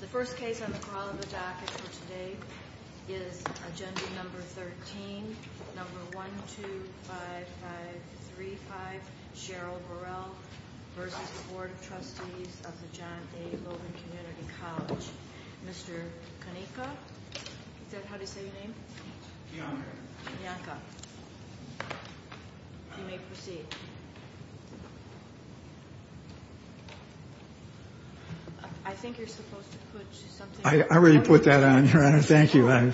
The first case on the Corolla v. Dockett for today is Agenda No. 13, No. 1, 2, 5, 5, 3, 5, Cheryl Burrell v. The Board of Trustees of the John A. Logan Community College. Mr. Kanika? Is that how you say your name? Bianca. Bianca. You may proceed. I think you're supposed to put something... I already put that on, Your Honor. Thank you.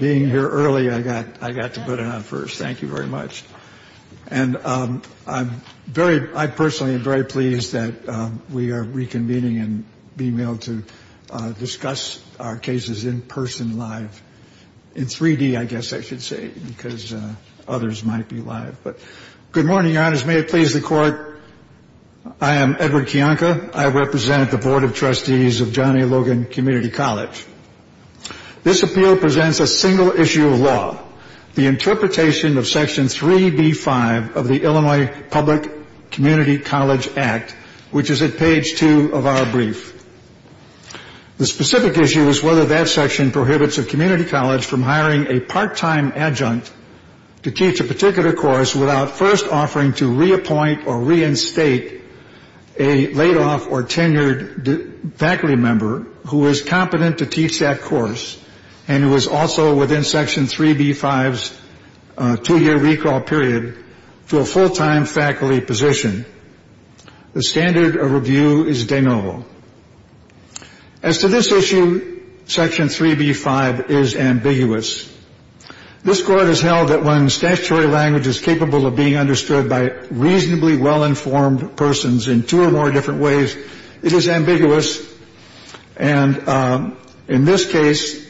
Being here early, I got to put it on first. Thank you very much. I personally am very pleased that we are reconvening and being able to discuss our cases in person, live. In 3D, I guess I should say, because others might be live. Good morning, Your Honors. May it please the Court, I am Edward Kianka. I represent the Board of Trustees of John A. Logan Community College. This appeal presents a single issue of law, the interpretation of Section 3B-5 of the Illinois Public Community College Act, which is at page 2 of our brief. The specific issue is whether that section prohibits a community college from hiring a part-time adjunct to teach a particular course without first offering to reappoint or reinstate a laid-off or tenured faculty member who is competent to teach that course and who is also within Section 3B-5's two-year recall period to a full-time faculty position. The standard of review is de novo. As to this issue, Section 3B-5 is ambiguous. This Court has held that when statutory language is capable of being understood by reasonably well-informed persons in two or more different ways, it is ambiguous. And in this case,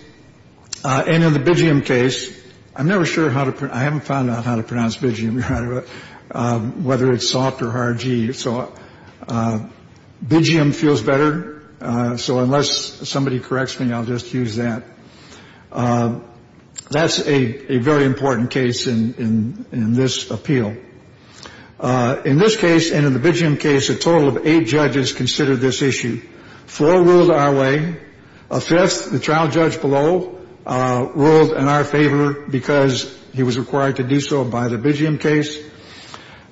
and in the Bigeum case, I'm never sure how to, I haven't found out how to pronounce Bigeum, whether it's soft or hard G. So Bigeum feels better. So unless somebody corrects me, I'll just use that. That's a very important case in this appeal. In this case, and in the Bigeum case, a total of eight judges considered this issue. Four ruled our way. A fifth, the trial judge below, ruled in our favor because he was required to do so by the Bigeum case.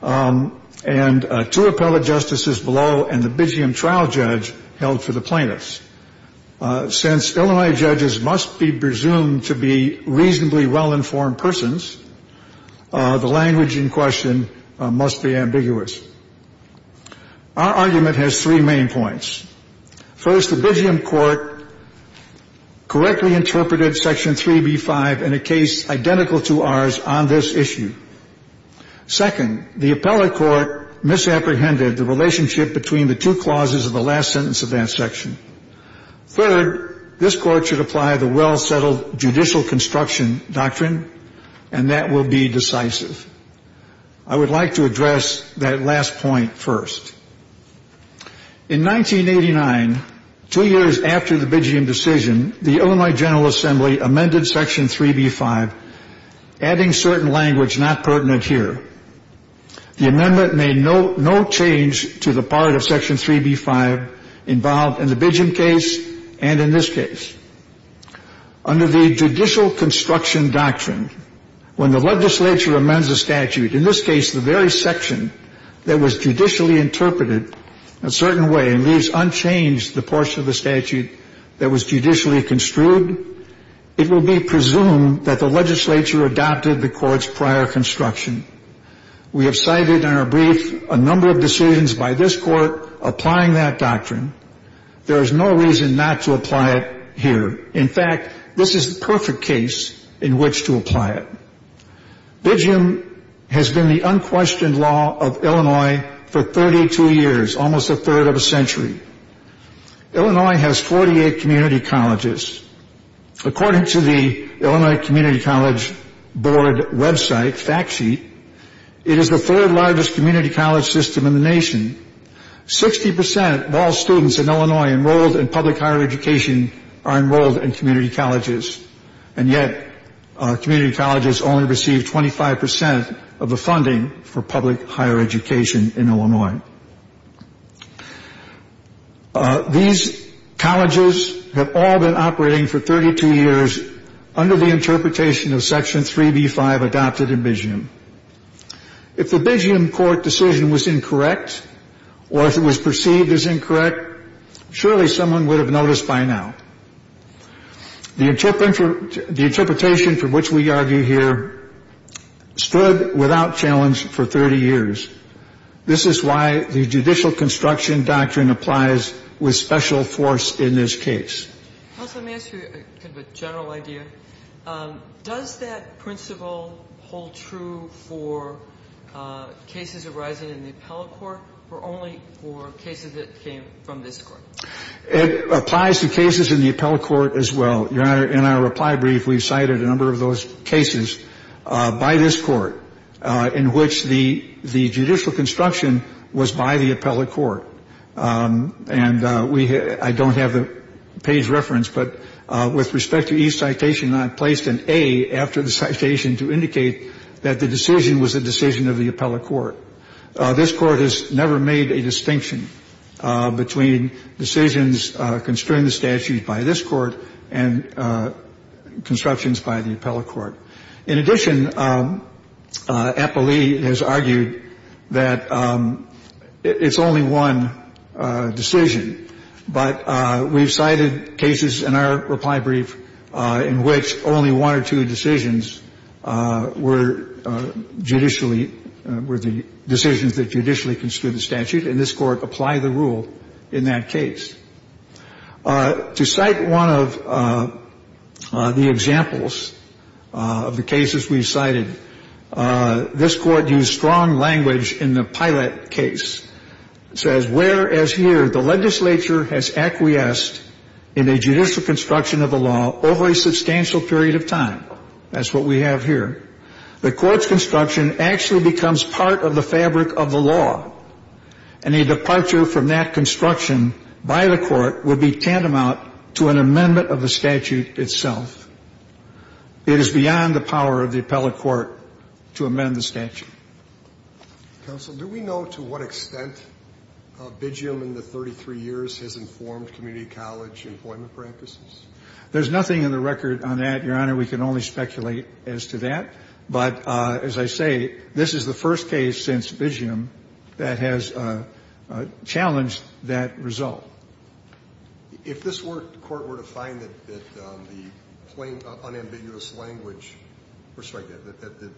And two appellate justices below and the Bigeum trial judge held for the plaintiffs. Since Illinois judges must be presumed to be reasonably well-informed persons, the language in question must be ambiguous. Our argument has three main points. First, the Bigeum court correctly interpreted Section 3B-5 in a case identical to ours on this issue. Second, the appellate court misapprehended the relationship between the two clauses of the last sentence of that section. Third, this court should apply the well-settled judicial construction doctrine, and that will be decisive. I would like to address that last point first. In 1989, two years after the Bigeum decision, the Illinois General Assembly amended Section 3B-5, adding certain language not pertinent here. The amendment made no change to the part of Section 3B-5 involved in the Bigeum case and in this case. Under the judicial construction doctrine, when the legislature amends a statute, in this case the very section that was judicially interpreted a certain way and leaves unchanged the portion of the statute that was judicially construed, it will be presumed that the legislature adopted the court's prior construction. We have cited in our brief a number of decisions by this court applying that doctrine. There is no reason not to apply it here. In fact, this is the perfect case in which to apply it. Bigeum has been the unquestioned law of Illinois for 32 years, almost a third of a century. Illinois has 48 community colleges. According to the Illinois Community College Board website fact sheet, it is the third largest community college system in the nation. Sixty percent of all students in Illinois enrolled in public higher education are enrolled in community colleges, and yet community colleges only receive 25 percent of the funding for public higher education in Illinois. These colleges have all been operating for 32 years under the interpretation of Section 3B-5 adopted in Bigeum. If the Bigeum court decision was incorrect or if it was perceived as incorrect, surely someone would have noticed by now. The interpretation for which we argue here stood without challenge for 30 years. This is why the judicial construction doctrine applies with special force in this case. Counsel, may I ask you a general idea? Does that principle hold true for cases arising in the appellate court or only for cases that came from this court? It applies to cases in the appellate court as well. Your Honor, in our reply brief, we've cited a number of those cases by this court in which the judicial construction was by the appellate court. And I don't have the page reference, but with respect to each citation, I placed an A after the citation to indicate that the decision was the decision of the appellate court. This court has never made a distinction between decisions construing the statute by this court and constructions by the appellate court. In addition, appellee has argued that it's only one decision. But we've cited cases in our reply brief in which only one or two decisions were judicially – were the decisions that judicially construed the statute. And this court applied the rule in that case. To cite one of the examples of the cases we've cited, this court used strong language in the Pilate case. It says, whereas here the legislature has acquiesced in a judicial construction of the law over a substantial period of time – that's what we have here – the court's construction actually becomes part of the fabric of the law. And a departure from that construction by the court would be tantamount to an amendment of the statute itself. It is beyond the power of the appellate court to amend the statute. Counsel, do we know to what extent Bigeum in the 33 years has informed community college employment practices? There's nothing in the record on that, Your Honor. We can only speculate as to that. But as I say, this is the first case since Bigeum that has challenged that result. If this court were to find that the plain unambiguous language – or sorry, that the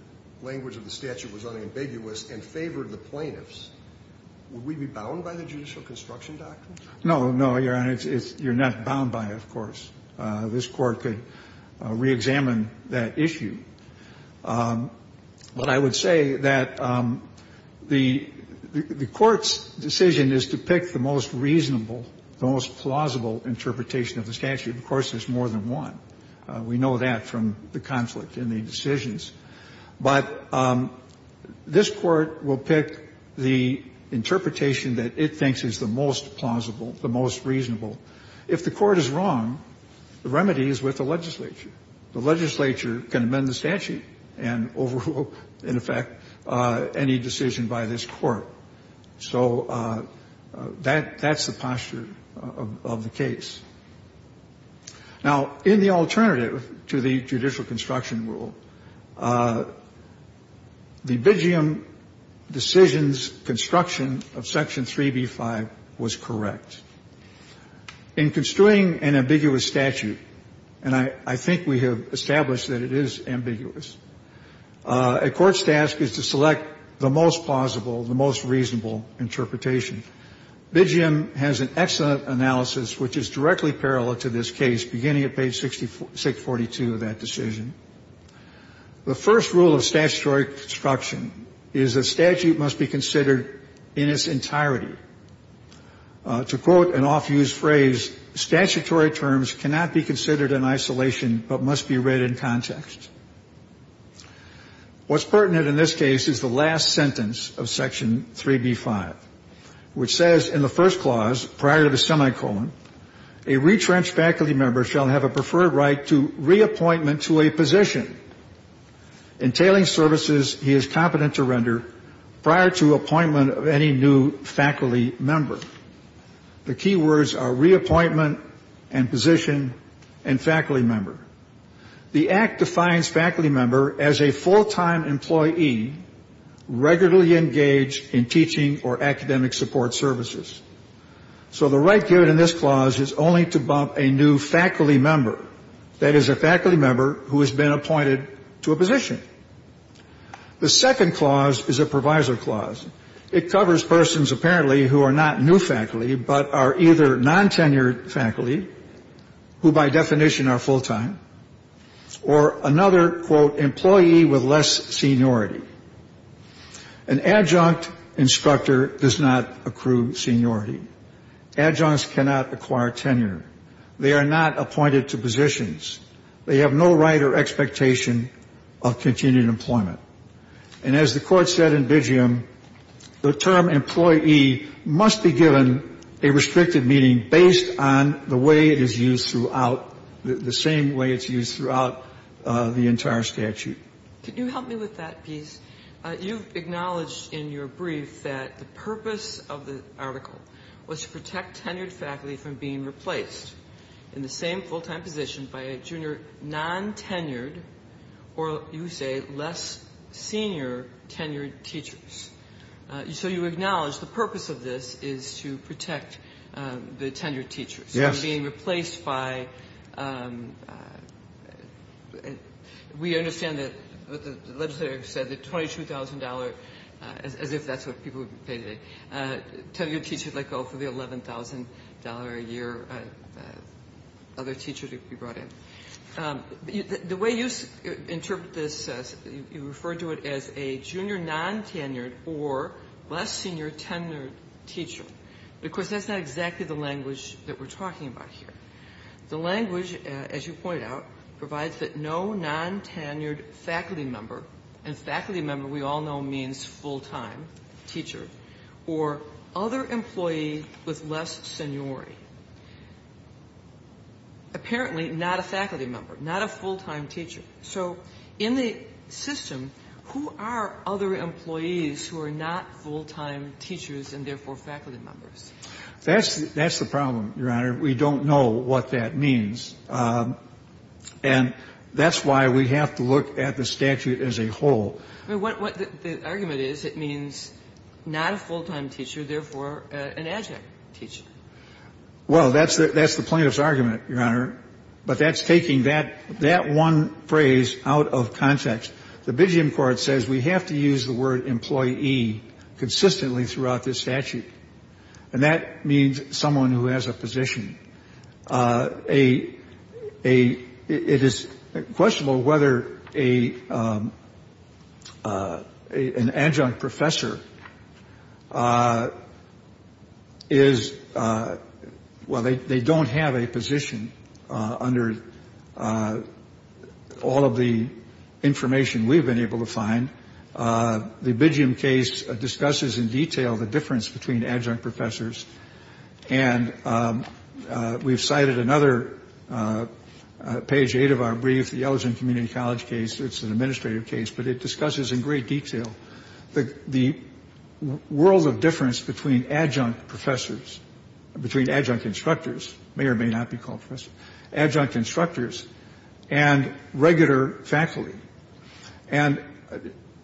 language of the statute was unambiguous and favored the plaintiffs, would we be bound by the judicial construction doctrine? No, no, Your Honor. You're not bound by it, of course. This court could reexamine that issue. But I would say that the court's decision is to pick the most reasonable, the most plausible interpretation of the statute. Of course, there's more than one. We know that from the conflict in the decisions. But this court will pick the interpretation that it thinks is the most plausible, the most reasonable. If the court is wrong, the remedy is with the legislature. The legislature can amend the statute and overrule, in effect, any decision by this court. So that's the posture of the case. Now, in the alternative to the judicial construction rule, the Bigeum decision's construction of Section 3b-5 was correct. In construing an ambiguous statute, and I think we have established that it is ambiguous, a court's task is to select the most plausible, the most reasonable interpretation. Bigeum has an excellent analysis which is directly parallel to this case, beginning at page 642 of that decision. The first rule of statutory construction is a statute must be considered in its entirety. To quote an oft-used phrase, statutory terms cannot be considered in isolation, but must be read in context. What's pertinent in this case is the last sentence of Section 3b-5, which says in the first clause, prior to the semicolon, a retrenched faculty member shall have a preferred right to reappointment to a position Entailing services he is competent to render prior to appointment of any new faculty member. The key words are reappointment and position and faculty member. The Act defines faculty member as a full-time employee regularly engaged in teaching or academic support services. So the right given in this clause is only to bump a new faculty member, that is a faculty member who has been appointed to a position. The second clause is a provisor clause. It covers persons apparently who are not new faculty but are either non-tenured faculty, who by definition are full-time, or another, quote, employee with less seniority. An adjunct instructor does not accrue seniority. Adjuncts cannot acquire tenure. They are not appointed to positions. They have no right or expectation of continued employment. And as the Court said in Digium, the term employee must be given a restricted meaning based on the way it is used throughout, the same way it's used throughout the entire statute. Could you help me with that piece? You've acknowledged in your brief that the purpose of the article was to protect tenured faculty from being replaced in the same full-time position by a junior non-tenured or, you say, less senior tenured teachers. So you acknowledge the purpose of this is to protect the tenured teachers. Yes. From being replaced by we understand that the legislator said the $22,000, as if that's what people would pay today, tenured teachers let go for the $11,000 a year other teachers would be brought in. The way you interpret this, you refer to it as a junior non-tenured or less senior tenured teacher. But, of course, that's not exactly the language that we're talking about here. The language, as you point out, provides that no non-tenured faculty member, and faculty member we all know means full-time teacher, or other employee with less seniority, apparently not a faculty member, not a full-time teacher. So in the system, who are other employees who are not full-time teachers and, therefore, faculty members? That's the problem, Your Honor. We don't know what that means. And that's why we have to look at the statute as a whole. I mean, what the argument is, it means not a full-time teacher, therefore an adjunct teacher. Well, that's the plaintiff's argument, Your Honor. But that's taking that one phrase out of context. The Bidgium Court says we have to use the word employee consistently throughout this statute. And that means someone who has a position. It is questionable whether an adjunct professor is, well, they don't have a position under all of the information we've been able to find. The Bidgium case discusses in detail the difference between adjunct professors. And we've cited another page eight of our brief, the Ellison Community College case. It's an administrative case. But it discusses in great detail the world of difference between adjunct professors, between adjunct instructors, may or may not be called professors, adjunct instructors and regular faculty. And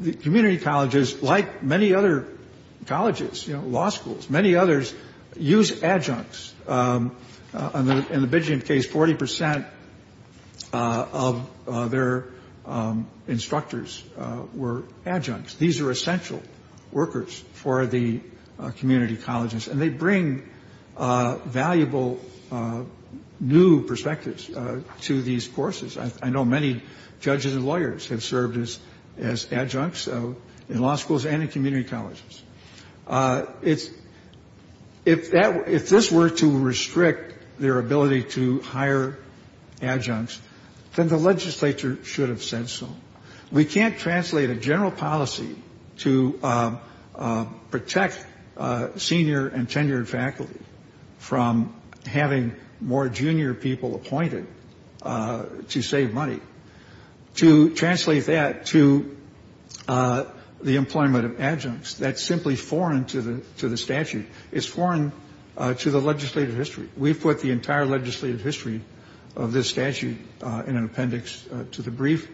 the community colleges, like many other colleges, you know, law schools, many others, use adjuncts. In the Bidgium case, 40 percent of their instructors were adjuncts. These are essential workers for the community colleges. And they bring valuable new perspectives to these courses. I know many judges and lawyers have served as adjuncts in law schools and in community colleges. If this were to restrict their ability to hire adjuncts, then the legislature should have said so. We can't translate a general policy to protect senior and tenured faculty from having more to save money, to translate that to the employment of adjuncts. That's simply foreign to the statute. It's foreign to the legislative history. We've put the entire legislative history of this statute in an appendix to the brief.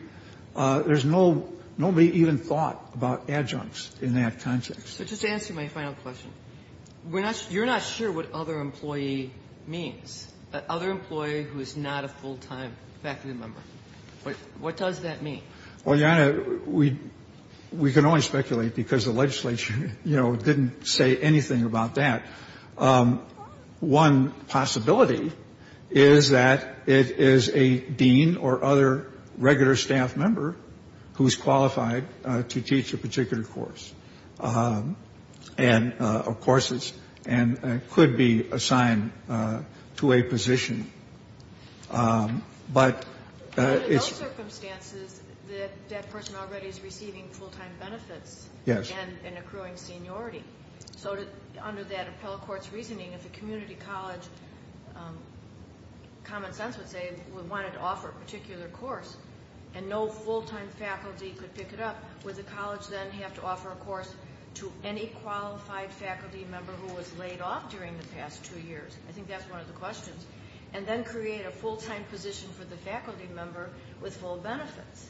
There's nobody even thought about adjuncts in that context. So just to answer my final question, you're not sure what other employee means, who is not a full-time faculty member. What does that mean? Well, Your Honor, we can only speculate because the legislature, you know, didn't say anything about that. One possibility is that it is a dean or other regular staff member who is qualified to teach a particular course and could be assigned to a position. But in those circumstances, that person already is receiving full-time benefits and accruing seniority. So under that appellate court's reasoning, if a community college, common sense would say, would want to offer a particular course and no full-time faculty could pick it up, would the college then have to offer a course to any qualified faculty member who was laid off during the past two years? I think that's one of the questions. And then create a full-time position for the faculty member with full benefits.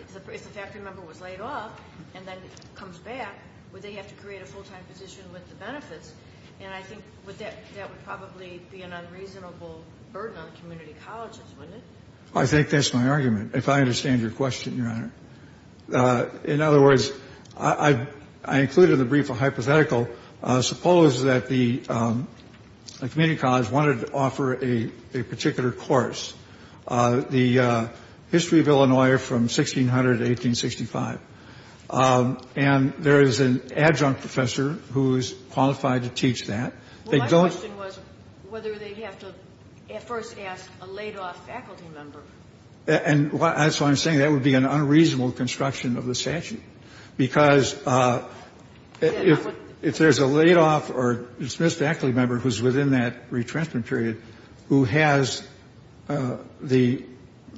If the faculty member was laid off and then comes back, would they have to create a full-time position with the benefits? And I think that would probably be an unreasonable burden on community colleges, wouldn't it? I think that's my argument. If I understand your question, Your Honor. In other words, I included in the brief a hypothetical. Suppose that the community college wanted to offer a particular course, the history of Illinois from 1600 to 1865. And there is an adjunct professor who is qualified to teach that. My question was whether they'd have to first ask a laid-off faculty member. And that's why I'm saying that would be an unreasonable construction of the statute. Because if there's a laid-off or dismissed faculty member who's within that retransfer period who has the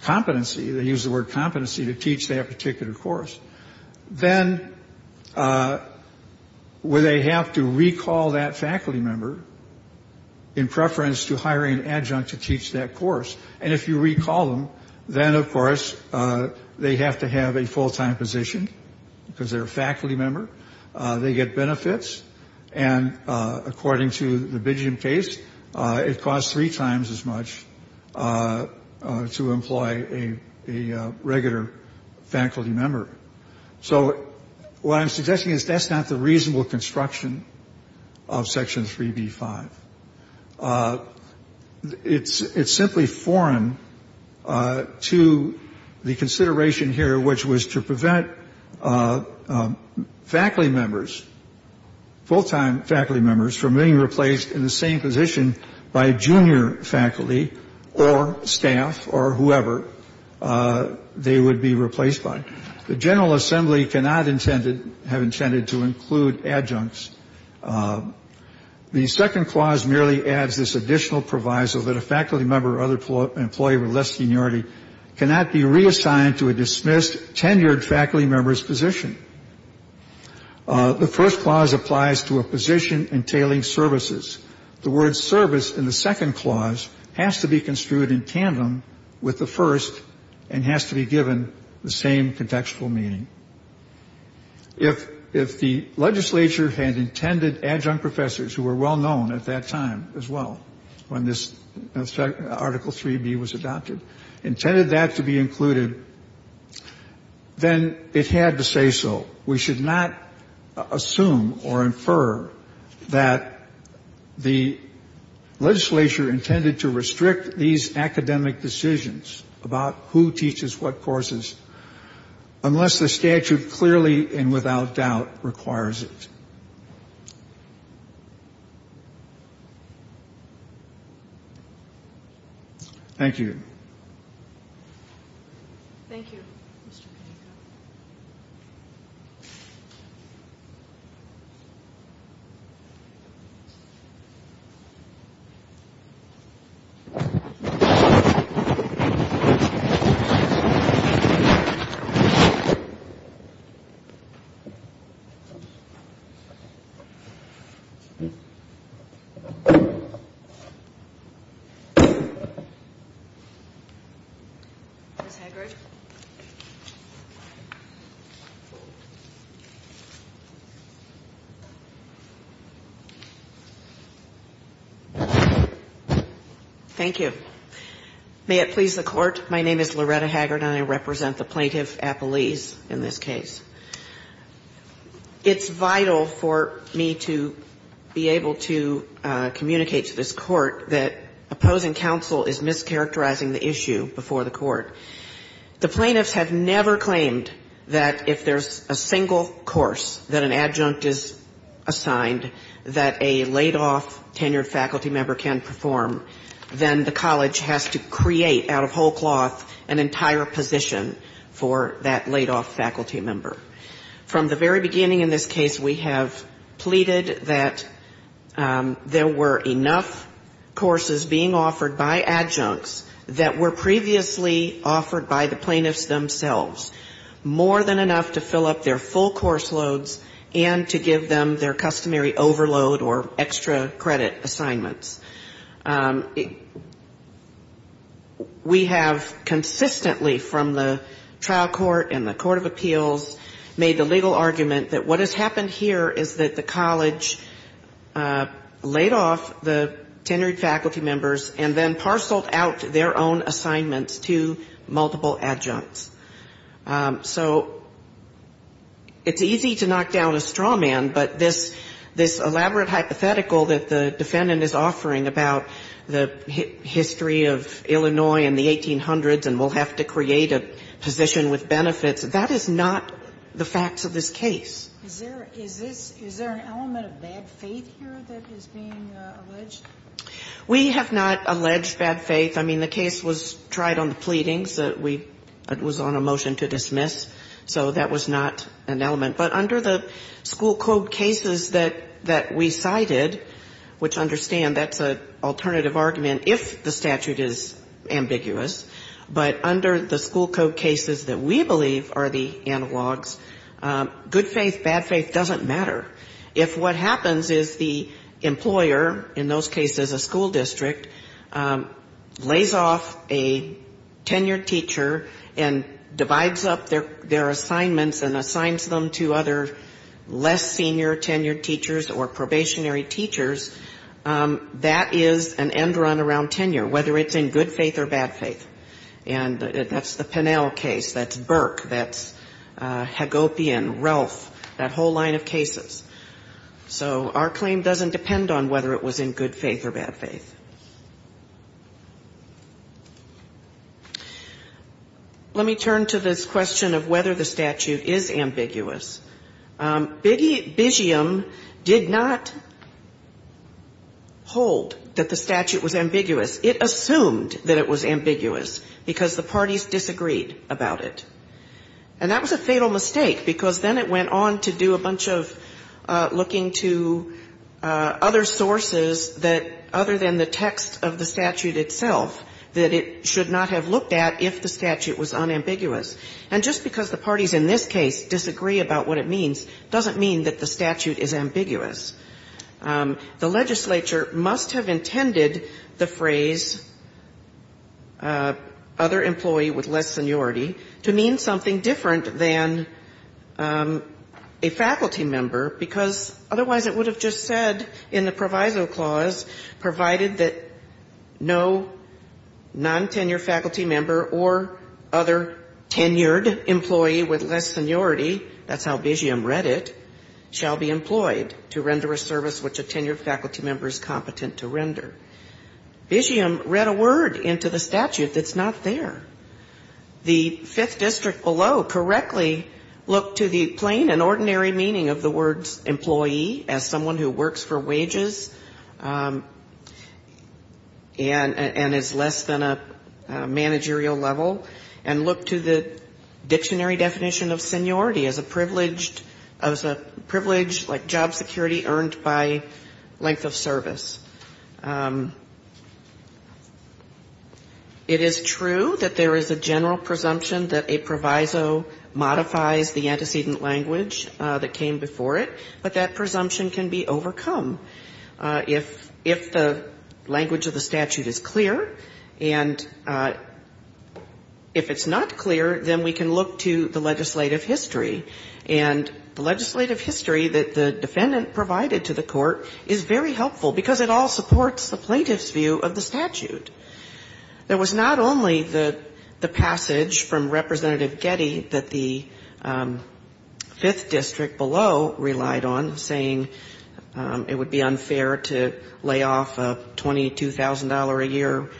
competency, they use the word competency to teach that particular course, then would they have to recall that faculty member in preference to hiring an adjunct to teach that course? And if you recall them, then, of course, they have to have a full-time position because they're a faculty member. They get benefits. And according to the Bidjian case, it costs three times as much to employ a regular faculty member. So what I'm suggesting is that's not the reasonable construction of Section 3B-5. It's simply foreign to the consideration here, which was to prevent faculty members, full-time faculty members, from being replaced in the same position by a junior faculty or staff or whoever they would be replaced by. The General Assembly cannot have intended to include adjuncts. The second clause merely adds this additional proviso that a faculty member or other employee with less seniority cannot be reassigned to a dismissed, tenured faculty member's position. The first clause applies to a position entailing services. The word service in the second clause has to be construed in tandem with the first and has to be given the same contextual meaning. If the legislature had intended adjunct professors, who were well-known at that time as well, when this Article 3B was adopted, intended that to be included, then it had to say so. We should not assume or infer that the legislature intended to restrict these academic decisions about who teaches what courses unless the statute clearly and without doubt requires it. Thank you. Thank you, Mr. Penaka. Ms. Haggard. Thank you. May it please the Court, my name is Loretta Haggard and I represent the plaintiff, Appelese, in this case. It's vital for me to be able to communicate to this Court that opposing counsel is mischaracterizing the issue before the Court. The plaintiffs have never claimed that if there's a single course that an adjunct is assigned that a laid-off, tenured faculty member can perform, then the college has to create, out of whole cloth, an entire position for that laid-off faculty member. From the very beginning in this case, we have pleaded that there were enough courses being offered by adjuncts that were previously offered by the plaintiffs themselves, more than enough to fill up their full course loads and to give them their customary overload or extra credit assignments. We have consistently, from the trial court and the Court of Appeals, made the legal argument that what has happened here is that the college laid off the tenured faculty members and then parceled out their own assignments to multiple adjuncts. So it's easy to knock down a straw man, but this elaborate hypothetical that the defendant is offering about the history of the college and the 1800s and we'll have to create a position with benefits, that is not the facts of this case. Is there an element of bad faith here that is being alleged? We have not alleged bad faith. I mean, the case was tried on the pleadings. It was on a motion to dismiss, so that was not an element. But under the school code cases that we cited, which understand that's an alternative argument if the statute is ambiguous, but under the school code cases that we believe are the analogs, good faith, bad faith doesn't matter. If what happens is the employer, in those cases a school district, lays off a tenured teacher and divides up their assignments and assigns them to other less senior tenured teachers or probationary teachers, that is an end to the case. It doesn't run around tenure, whether it's in good faith or bad faith. And that's the Pennell case, that's Burke, that's Hagopian, Relf, that whole line of cases. So our claim doesn't depend on whether it was in good faith or bad faith. Let me turn to this question of whether the statute is ambiguous. Biggium did not hold that the statute was ambiguous. It assumed that it was ambiguous because the parties disagreed about it. And that was a fatal mistake, because then it went on to do a bunch of looking to other sources that, other than the text of the statute itself, that it should not have looked at if the statute was unambiguous. And just because the parties in this case disagree about what it means doesn't mean that the statute is ambiguous. The legislature must have intended the phrase, other employee with less seniority, to mean something different than a faculty member, because otherwise it would have just said in the proviso clause, provided that no nontenure faculty member or other tenured faculty member or tenured employee with less seniority, that's how Biggium read it, shall be employed to render a service which a tenured faculty member is competent to render. Biggium read a word into the statute that's not there. The Fifth District below correctly looked to the plain and ordinary meaning of the words employee as someone who works for wages and is less than a managerial level, and looked to the dictionary definition of seniority as a privileged, as a privilege like job security earned by length of service. It is true that there is a general presumption that a proviso modifies the antecedent language that came before it, but that presumption can be overcome. If the language of the statute is clear, and if it's not clear, then we can look to the legislative history. And the legislative history that the defendant provided to the court is very helpful, because it all supports the plaintiff's view of the statute. There was not only the passage from Representative Getty that the Fifth District below relied on, saying it would be unfair to lay off a $22,000-a-year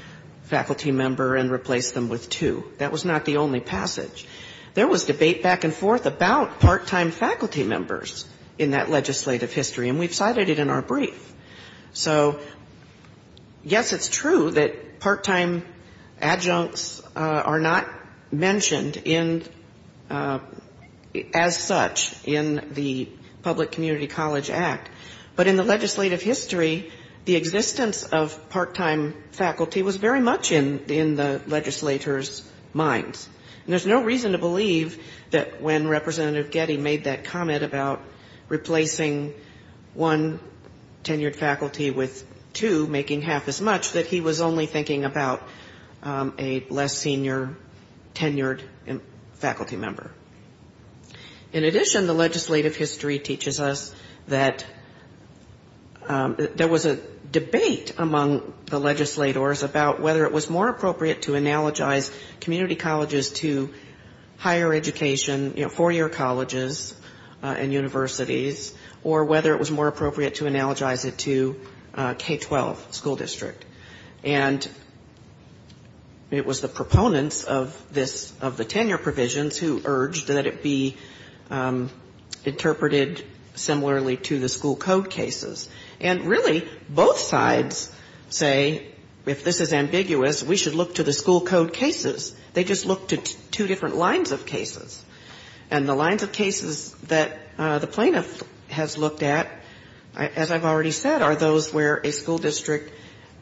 faculty member and replace them with two. That was not the only passage. There was debate back and forth about part-time faculty members in that legislative history, and we've cited it in our brief. So, yes, it's true that part-time adjuncts are not mentioned in, as such, in the Public Community College Act, but in the legislative history, the existence of part-time faculty was very much in the legislators' minds. And there's no reason to believe that when Representative Getty made that comment about replacing one tenured faculty with two, making half as much, that he was only thinking about a less senior tenured faculty member. In addition, the legislative history teaches us that there was a debate among the legislators about whether it was more appropriate to analogize community colleges to higher education, you know, four-year colleges and universities, or whether it was more appropriate to analogize it to K-12 school district. And it was the proponents of this, of the tenure provisions who urged that it be interpreted similarly to the school code cases. And really, both sides say, if this is ambiguous, we should look to the school code cases. They just look to two different lines of cases. And the lines of cases that the plaintiff has looked at, as I've already said, are those where a school district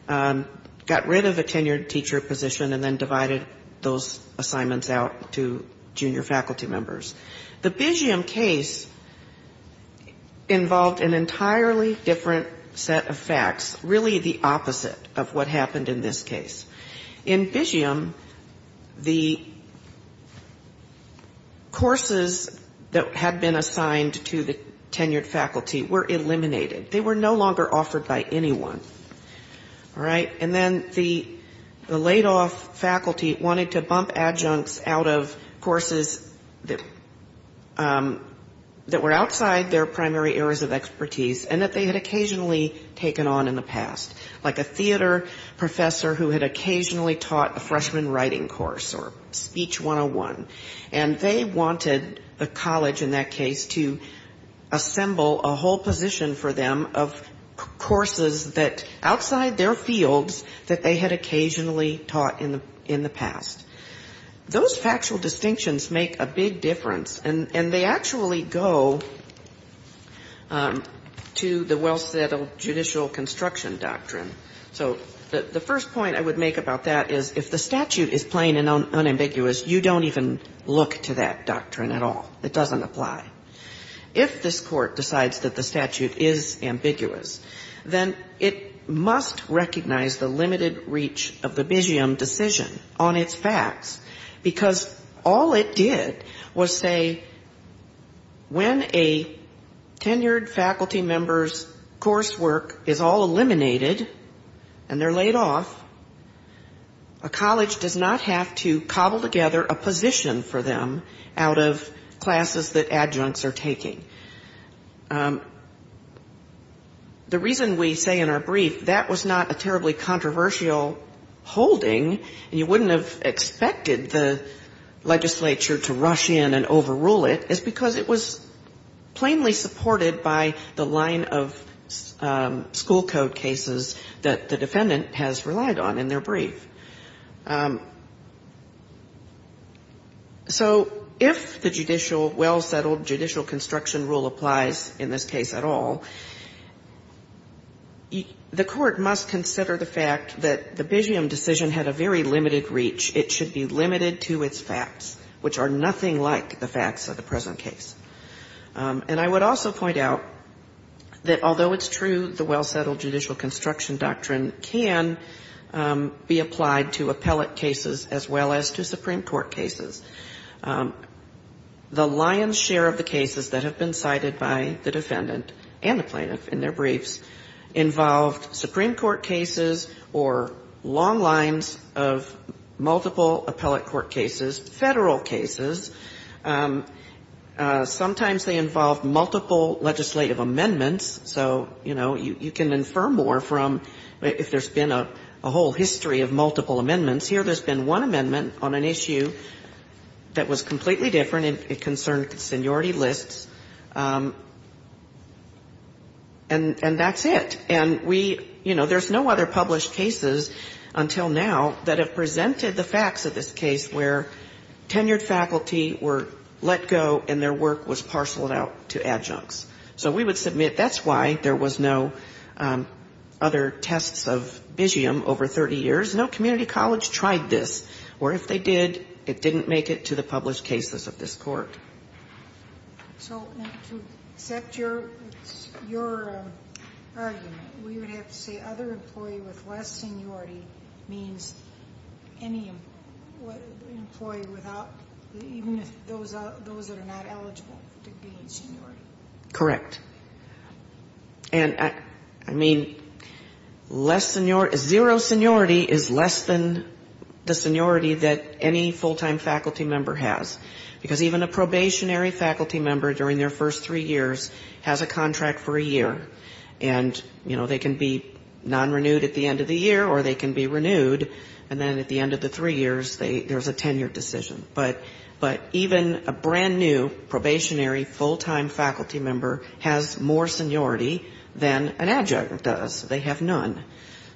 got rid of a tenured teacher position and then divided those assignments out to junior faculty members. So we have an entirely different set of facts, really the opposite of what happened in this case. In Bisham, the courses that had been assigned to the tenured faculty were eliminated. They were no longer offered by anyone. All right? And then the laid-off faculty wanted to bump adjuncts out of courses that were outside their primary areas of expertise, and that they had occasionally taken on in the past. Like a theater professor who had occasionally taught a freshman writing course, or speech 101. And they wanted the college in that case to assemble a whole position for them of courses that, outside their fields, that they had occasionally taught in the past. Those factual distinctions make a big difference. And so I'm going to turn now to the well-settled judicial construction doctrine. So the first point I would make about that is, if the statute is plain and unambiguous, you don't even look to that doctrine at all. It doesn't apply. If this Court decides that the statute is ambiguous, then it must recognize the limited reach of the Bisham decision on its facts, because all it did was say, faculty members' coursework is all eliminated, and they're laid off, a college does not have to cobble together a position for them out of classes that adjuncts are taking. The reason we say in our brief that was not a terribly controversial holding, and you wouldn't have expected the legislature to look at the line of school code cases that the defendant has relied on in their brief. So if the judicial, well-settled judicial construction rule applies in this case at all, the Court must consider the fact that the Bisham decision had a very limited reach. It should be limited to its facts, which are nothing like the facts of the present case. And I would also point out that the Bisham decision, that although it's true the well-settled judicial construction doctrine can be applied to appellate cases as well as to Supreme Court cases, the lion's share of the cases that have been cited by the defendant and the plaintiff in their briefs involved Supreme Court cases or long lines of multiple appellate court cases, Federal cases. Sometimes they involve multiple legislative amendments. So, you know, you can infer more from if there's been a whole history of multiple amendments. Here there's been one amendment on an issue that was completely different. It concerned seniority lists. And that's it. And we, you know, there's no other published cases until now that have presented the facts of this case where tenured faculty were let go and their work was submitted. That's why there was no other tests of Bisham over 30 years. No community college tried this. Or if they did, it didn't make it to the published cases of this Court. So to accept your argument, we would have to say other employee with less seniority means any employee without, even those that are not eligible to gain seniority. Correct. And I mean, less seniority, zero seniority is less than the seniority that any full-time faculty member has. Because even a probationary faculty member during their first three years has a contract for a year. And, you know, they can be non-renewed at the end of the year or they can be renewed. And then at the end of the three years, there's a tenured decision. But even a brand new probationary full-time faculty member has more seniority than an adjunct does. They have none.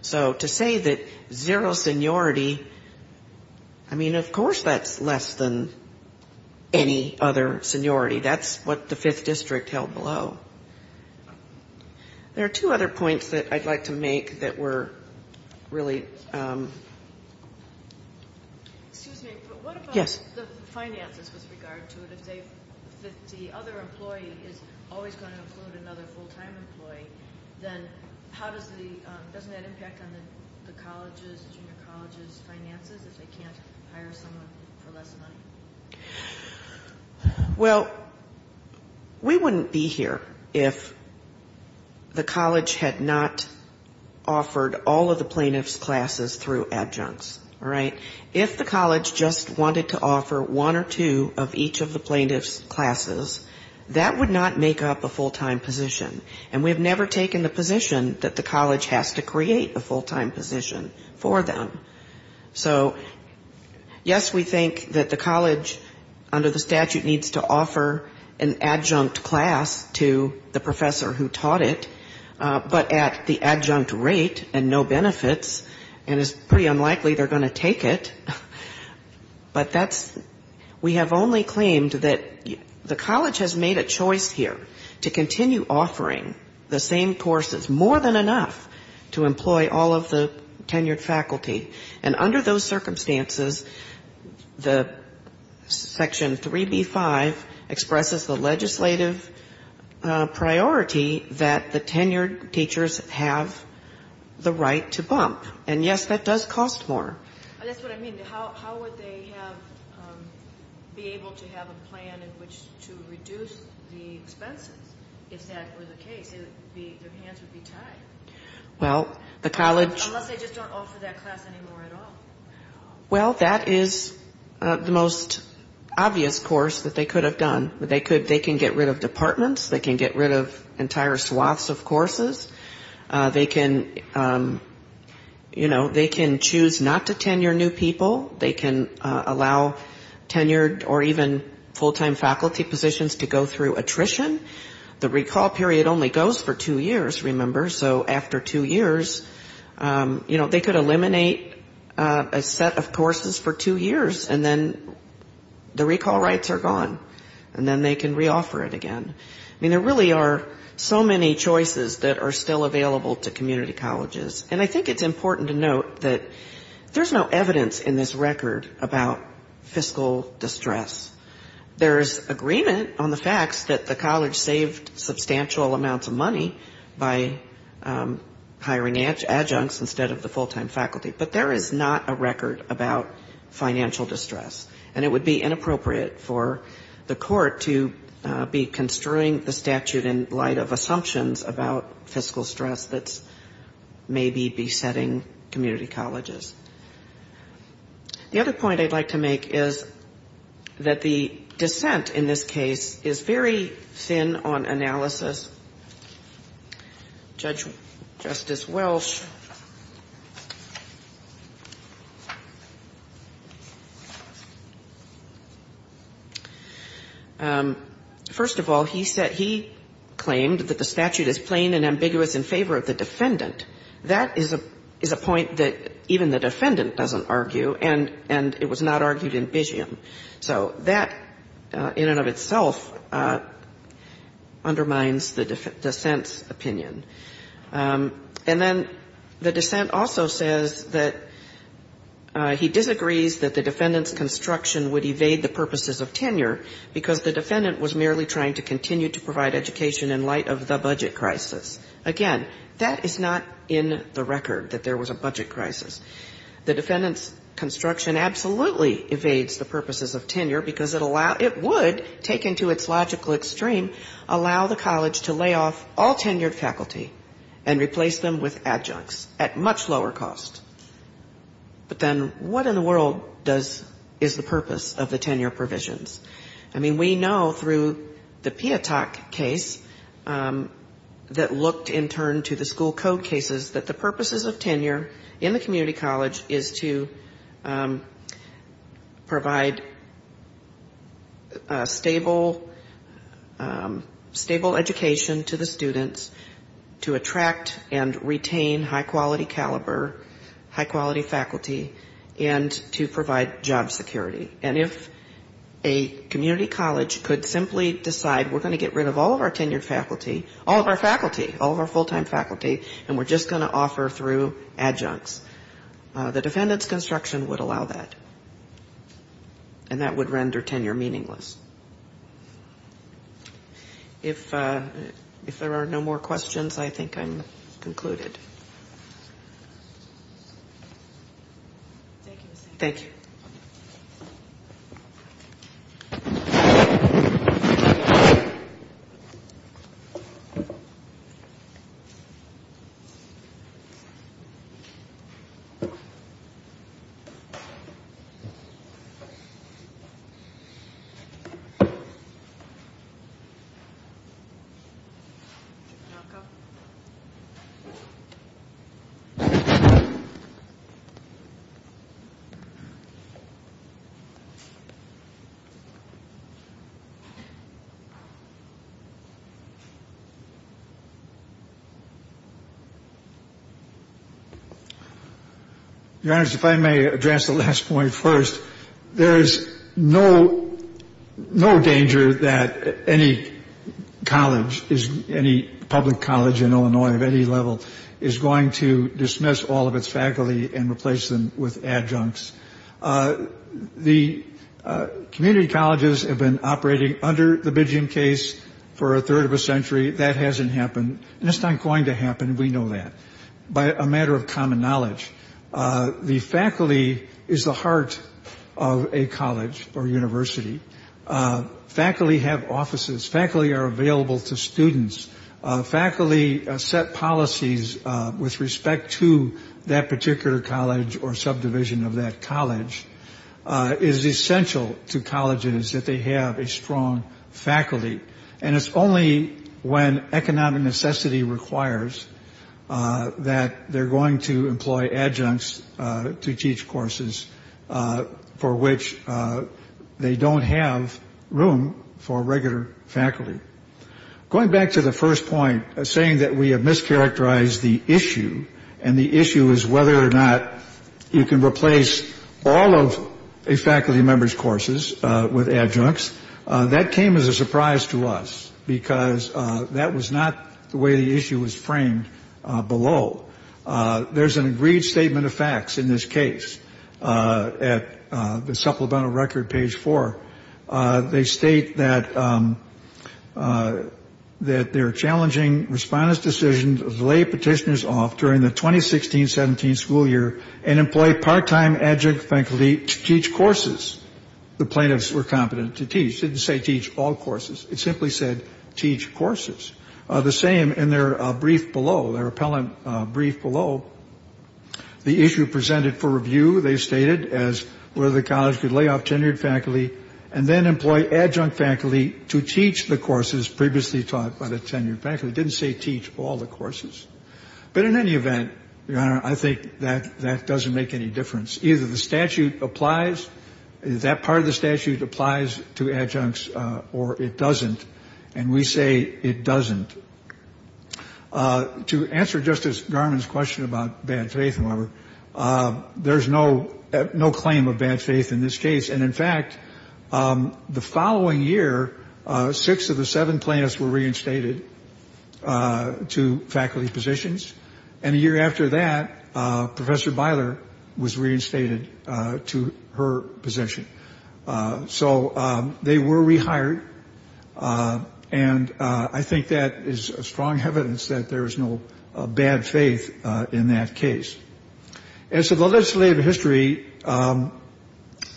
So to say that zero seniority, I mean, of course that's less than any other seniority. That's what the Fifth District held below. There are two other points that I'd like to make that were really... Excuse me, but what about the finances with regard to it? If the other employee is always going to include another full-time employee, then how does the, doesn't that impact on the college's, junior college's finances if they can't hire someone for less money? Well, we wouldn't be here if the college had not offered all of the plaintiffs' classes through adjuncts. All right? If the college just wanted to offer one or two of each of the plaintiffs' classes, that would not make up a full-time position. And we've never taken the position that the college has to create a full-time position for them. So yes, we think that the college under the statute needs to offer an adjunct class to the professor who taught it, but at the time, it was a full-time position. But that's, we have only claimed that the college has made a choice here to continue offering the same courses, more than enough to employ all of the tenured faculty. And under those circumstances, the Section 3B-5 expresses the legislative priority that the tenured teachers have the right to bump. And yes, that does cost more. But how would they have, be able to have a plan in which to reduce the expenses, if that were the case? Their hands would be tied. Unless they just don't offer that class anymore at all. Well, that is the most obvious course that they could have done. They can get rid of departments. They can get rid of entire swaths of courses. They can, you know, they can choose not to tenure new people. They can choose not to hire new people. They can choose not to allow tenured or even full-time faculty positions to go through attrition. The recall period only goes for two years, remember, so after two years, you know, they could eliminate a set of courses for two years, and then the recall rights are gone. And then they can reoffer it again. I mean, there really are so many choices that are still available to community colleges. And I think it's important to note that there is no evidence in this record about fiscal distress. There is agreement on the facts that the college saved substantial amounts of money by hiring adjuncts instead of the full-time faculty. But there is not a record about financial distress. And it would be inappropriate for the court to be construing the statute in light of assumptions about fiscal stress that's maybe besetting community colleges. The other point I'd like to make is that the dissent in this case is very thin on analysis. Judge Justice Welch, first of all, he claimed that the statute is plain and ambiguous in favor of the defendant. That is a point that even the defendant doesn't argue, and it was not argued in Bisham. So that in and of itself undermines the dissent's opinion. And then the dissent also says that he disagrees that the defendant's construction would evade the purposes of tenure, because the defendant was merely trying to continue to provide education in light of the budget crisis. Again, that is not in the record that there was a budget crisis. The defendant's construction absolutely evades the purposes of tenure, because it would, taken to its logical extreme, allow the college to lay off all tenured faculty and replace them with adjuncts at much lower cost. But then what in the world does, is the purpose of the tenure provisions? I mean, we know through the PIATOC case that looked in turn to the school code cases that the purposes of tenure in the community college is to provide stable education to the students, to attract and retain high-quality caliber, high-quality faculty, and to provide job security. And if a community college could simply decide we're going to get rid of all of our tenured faculty, all of our faculty, all of our full-time faculty, and we're just going to offer through adjuncts, the defendant's construction would allow that. And that would render tenure meaningless. If there are no more questions, I think I'm concluded. Thank you. Your Honor, if I may address the last point first. There's no reason to think that the PIATOC case is a good case. It's a good case. No danger that any college, any public college in Illinois of any level, is going to dismiss all of its faculty and replace them with adjuncts. The community colleges have been operating under the Bidgiam case for a third of a century. That hasn't happened. And it's not going to happen. We know that. By a matter of common knowledge. The faculty is the heart of a college or university. Faculty have offices. Faculty are available to students. Faculty set policies with respect to that particular college or subdivision of that college. It is essential to colleges that they have a strong faculty. And it's only when economic necessity requires that they're going to employ adjuncts to teach courses for which they don't have a strong faculty. There's no room for regular faculty. Going back to the first point, saying that we have mischaracterized the issue, and the issue is whether or not you can replace all of a faculty member's courses with adjuncts. That came as a surprise to us, because that was not the way the issue was framed below. There's an agreed statement of facts in this case at the supplemental record, page four. They state that they're challenging respondents' decisions to lay petitioners off during the 2016-17 school year and employ part-time adjunct faculty to teach courses. The plaintiffs were competent to teach. It didn't say teach all courses. It simply said teach courses. The same in their brief below, their appellant brief below. The issue presented for review, they stated, as whether the adjunct faculty to teach the courses previously taught by the tenured faculty. It didn't say teach all the courses. But in any event, Your Honor, I think that doesn't make any difference. Either the statute applies, that part of the statute applies to adjuncts, or it doesn't. And we say it doesn't. To answer Justice Garland's question about bad faith, however, there's no claim of bad faith. The following year, six of the seven plaintiffs were reinstated to faculty positions. And a year after that, Professor Beiler was reinstated to her position. So they were rehired. And I think that is strong evidence that there is no bad faith in that case. And so the legislative history,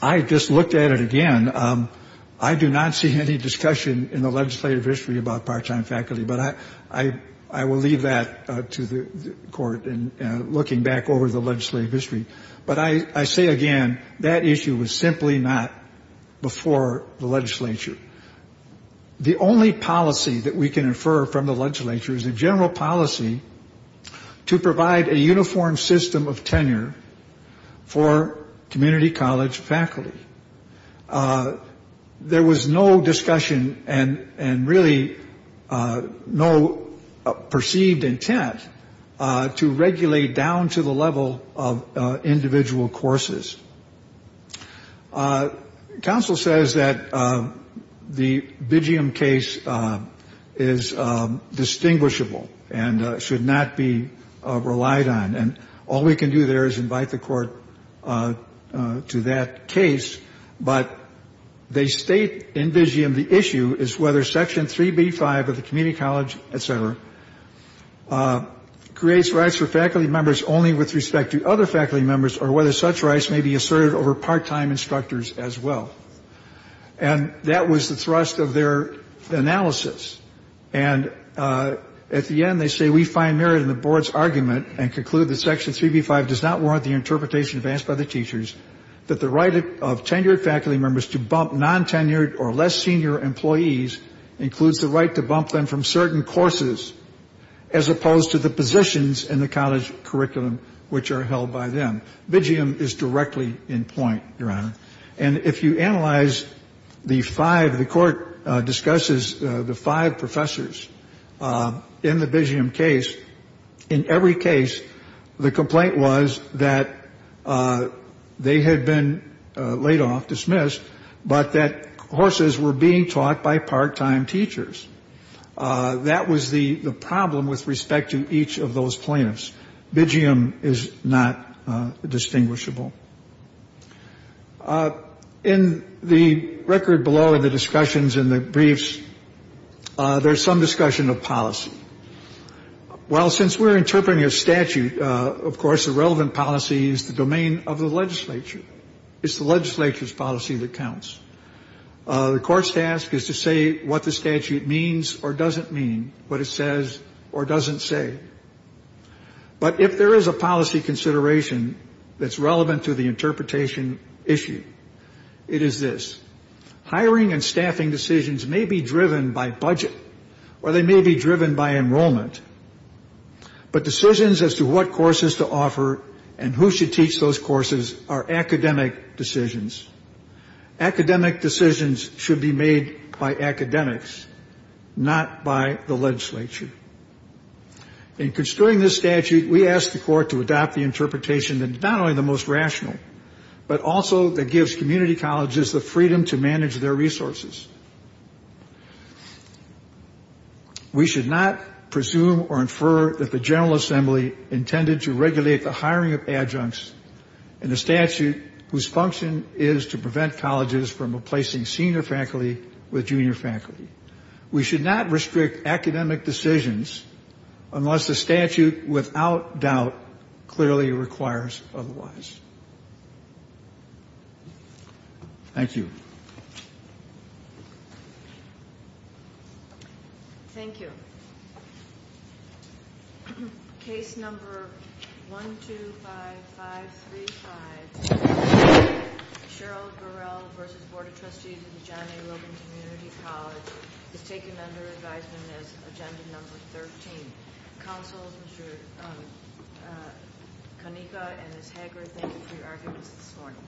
I just looked at it again. I don't think it's a bad case. I think it's a good case. I do not see any discussion in the legislative history about part-time faculty. But I will leave that to the Court in looking back over the legislative history. But I say again, that issue was simply not before the legislature. The only policy that we can infer from the legislature is a general policy to provide a uniform system of tenure for community college faculty. There was no discussion and really no perceived intent to regulate down to the level of individual courses. Counsel says that the Bigeum case is distinguishable and should not be relied on. And all we can do there is invite the Court to that case. But they state in Bigeum the issue is whether Section 3B-5 of the community college, et cetera, creates rights for faculty members only with respect to other faculty members or whether such rights may be asserted over part-time instructors as well. And that was the thrust of their analysis. And at the end, they say, we find merit in the Board's argument and conclude that Section 3B-5 does not warrant the right to bump them from certain courses, as opposed to the positions in the college curriculum which are held by them. Bigeum is directly in point, Your Honor. And if you analyze the five, the Court discusses the five professors in the Bigeum case, in every case, the complaint was that they had been laid off, dismissed, but that they had been laid off, dismissed, but that they had courses were being taught by part-time teachers. That was the problem with respect to each of those plaintiffs. Bigeum is not distinguishable. In the record below in the discussions in the briefs, there's some discussion of policy. Well, since we're interpreting a statute, of course, the relevant policy is the domain of the legislature. It's the legislature's policy that the court's task is to say what the statute means or doesn't mean, what it says or doesn't say. But if there is a policy consideration that's relevant to the interpretation issue, it is this. Hiring and staffing decisions may be driven by budget, or they may be driven by enrollment. But decisions as to what courses to offer and who should teach those courses are academic decisions. Academic decisions should be made by academics, not by the legislature. In construing this statute, we ask the court to adopt the interpretation that is not only the most rational, but also that gives community colleges the freedom to manage their resources. We should not presume or infer that the General Assembly intended to regulate the hiring of faculty. The function is to prevent colleges from replacing senior faculty with junior faculty. We should not restrict academic decisions unless the statute without doubt clearly requires otherwise. Thank you. Thank you. Case number 125535. Cheryl Burrell v. Board of Trustees of the John A. Logan Community College is taken under advisement as agenda number 13. Counsel, Mr. Kanika and Ms. Hager, thank you for your arguments this morning.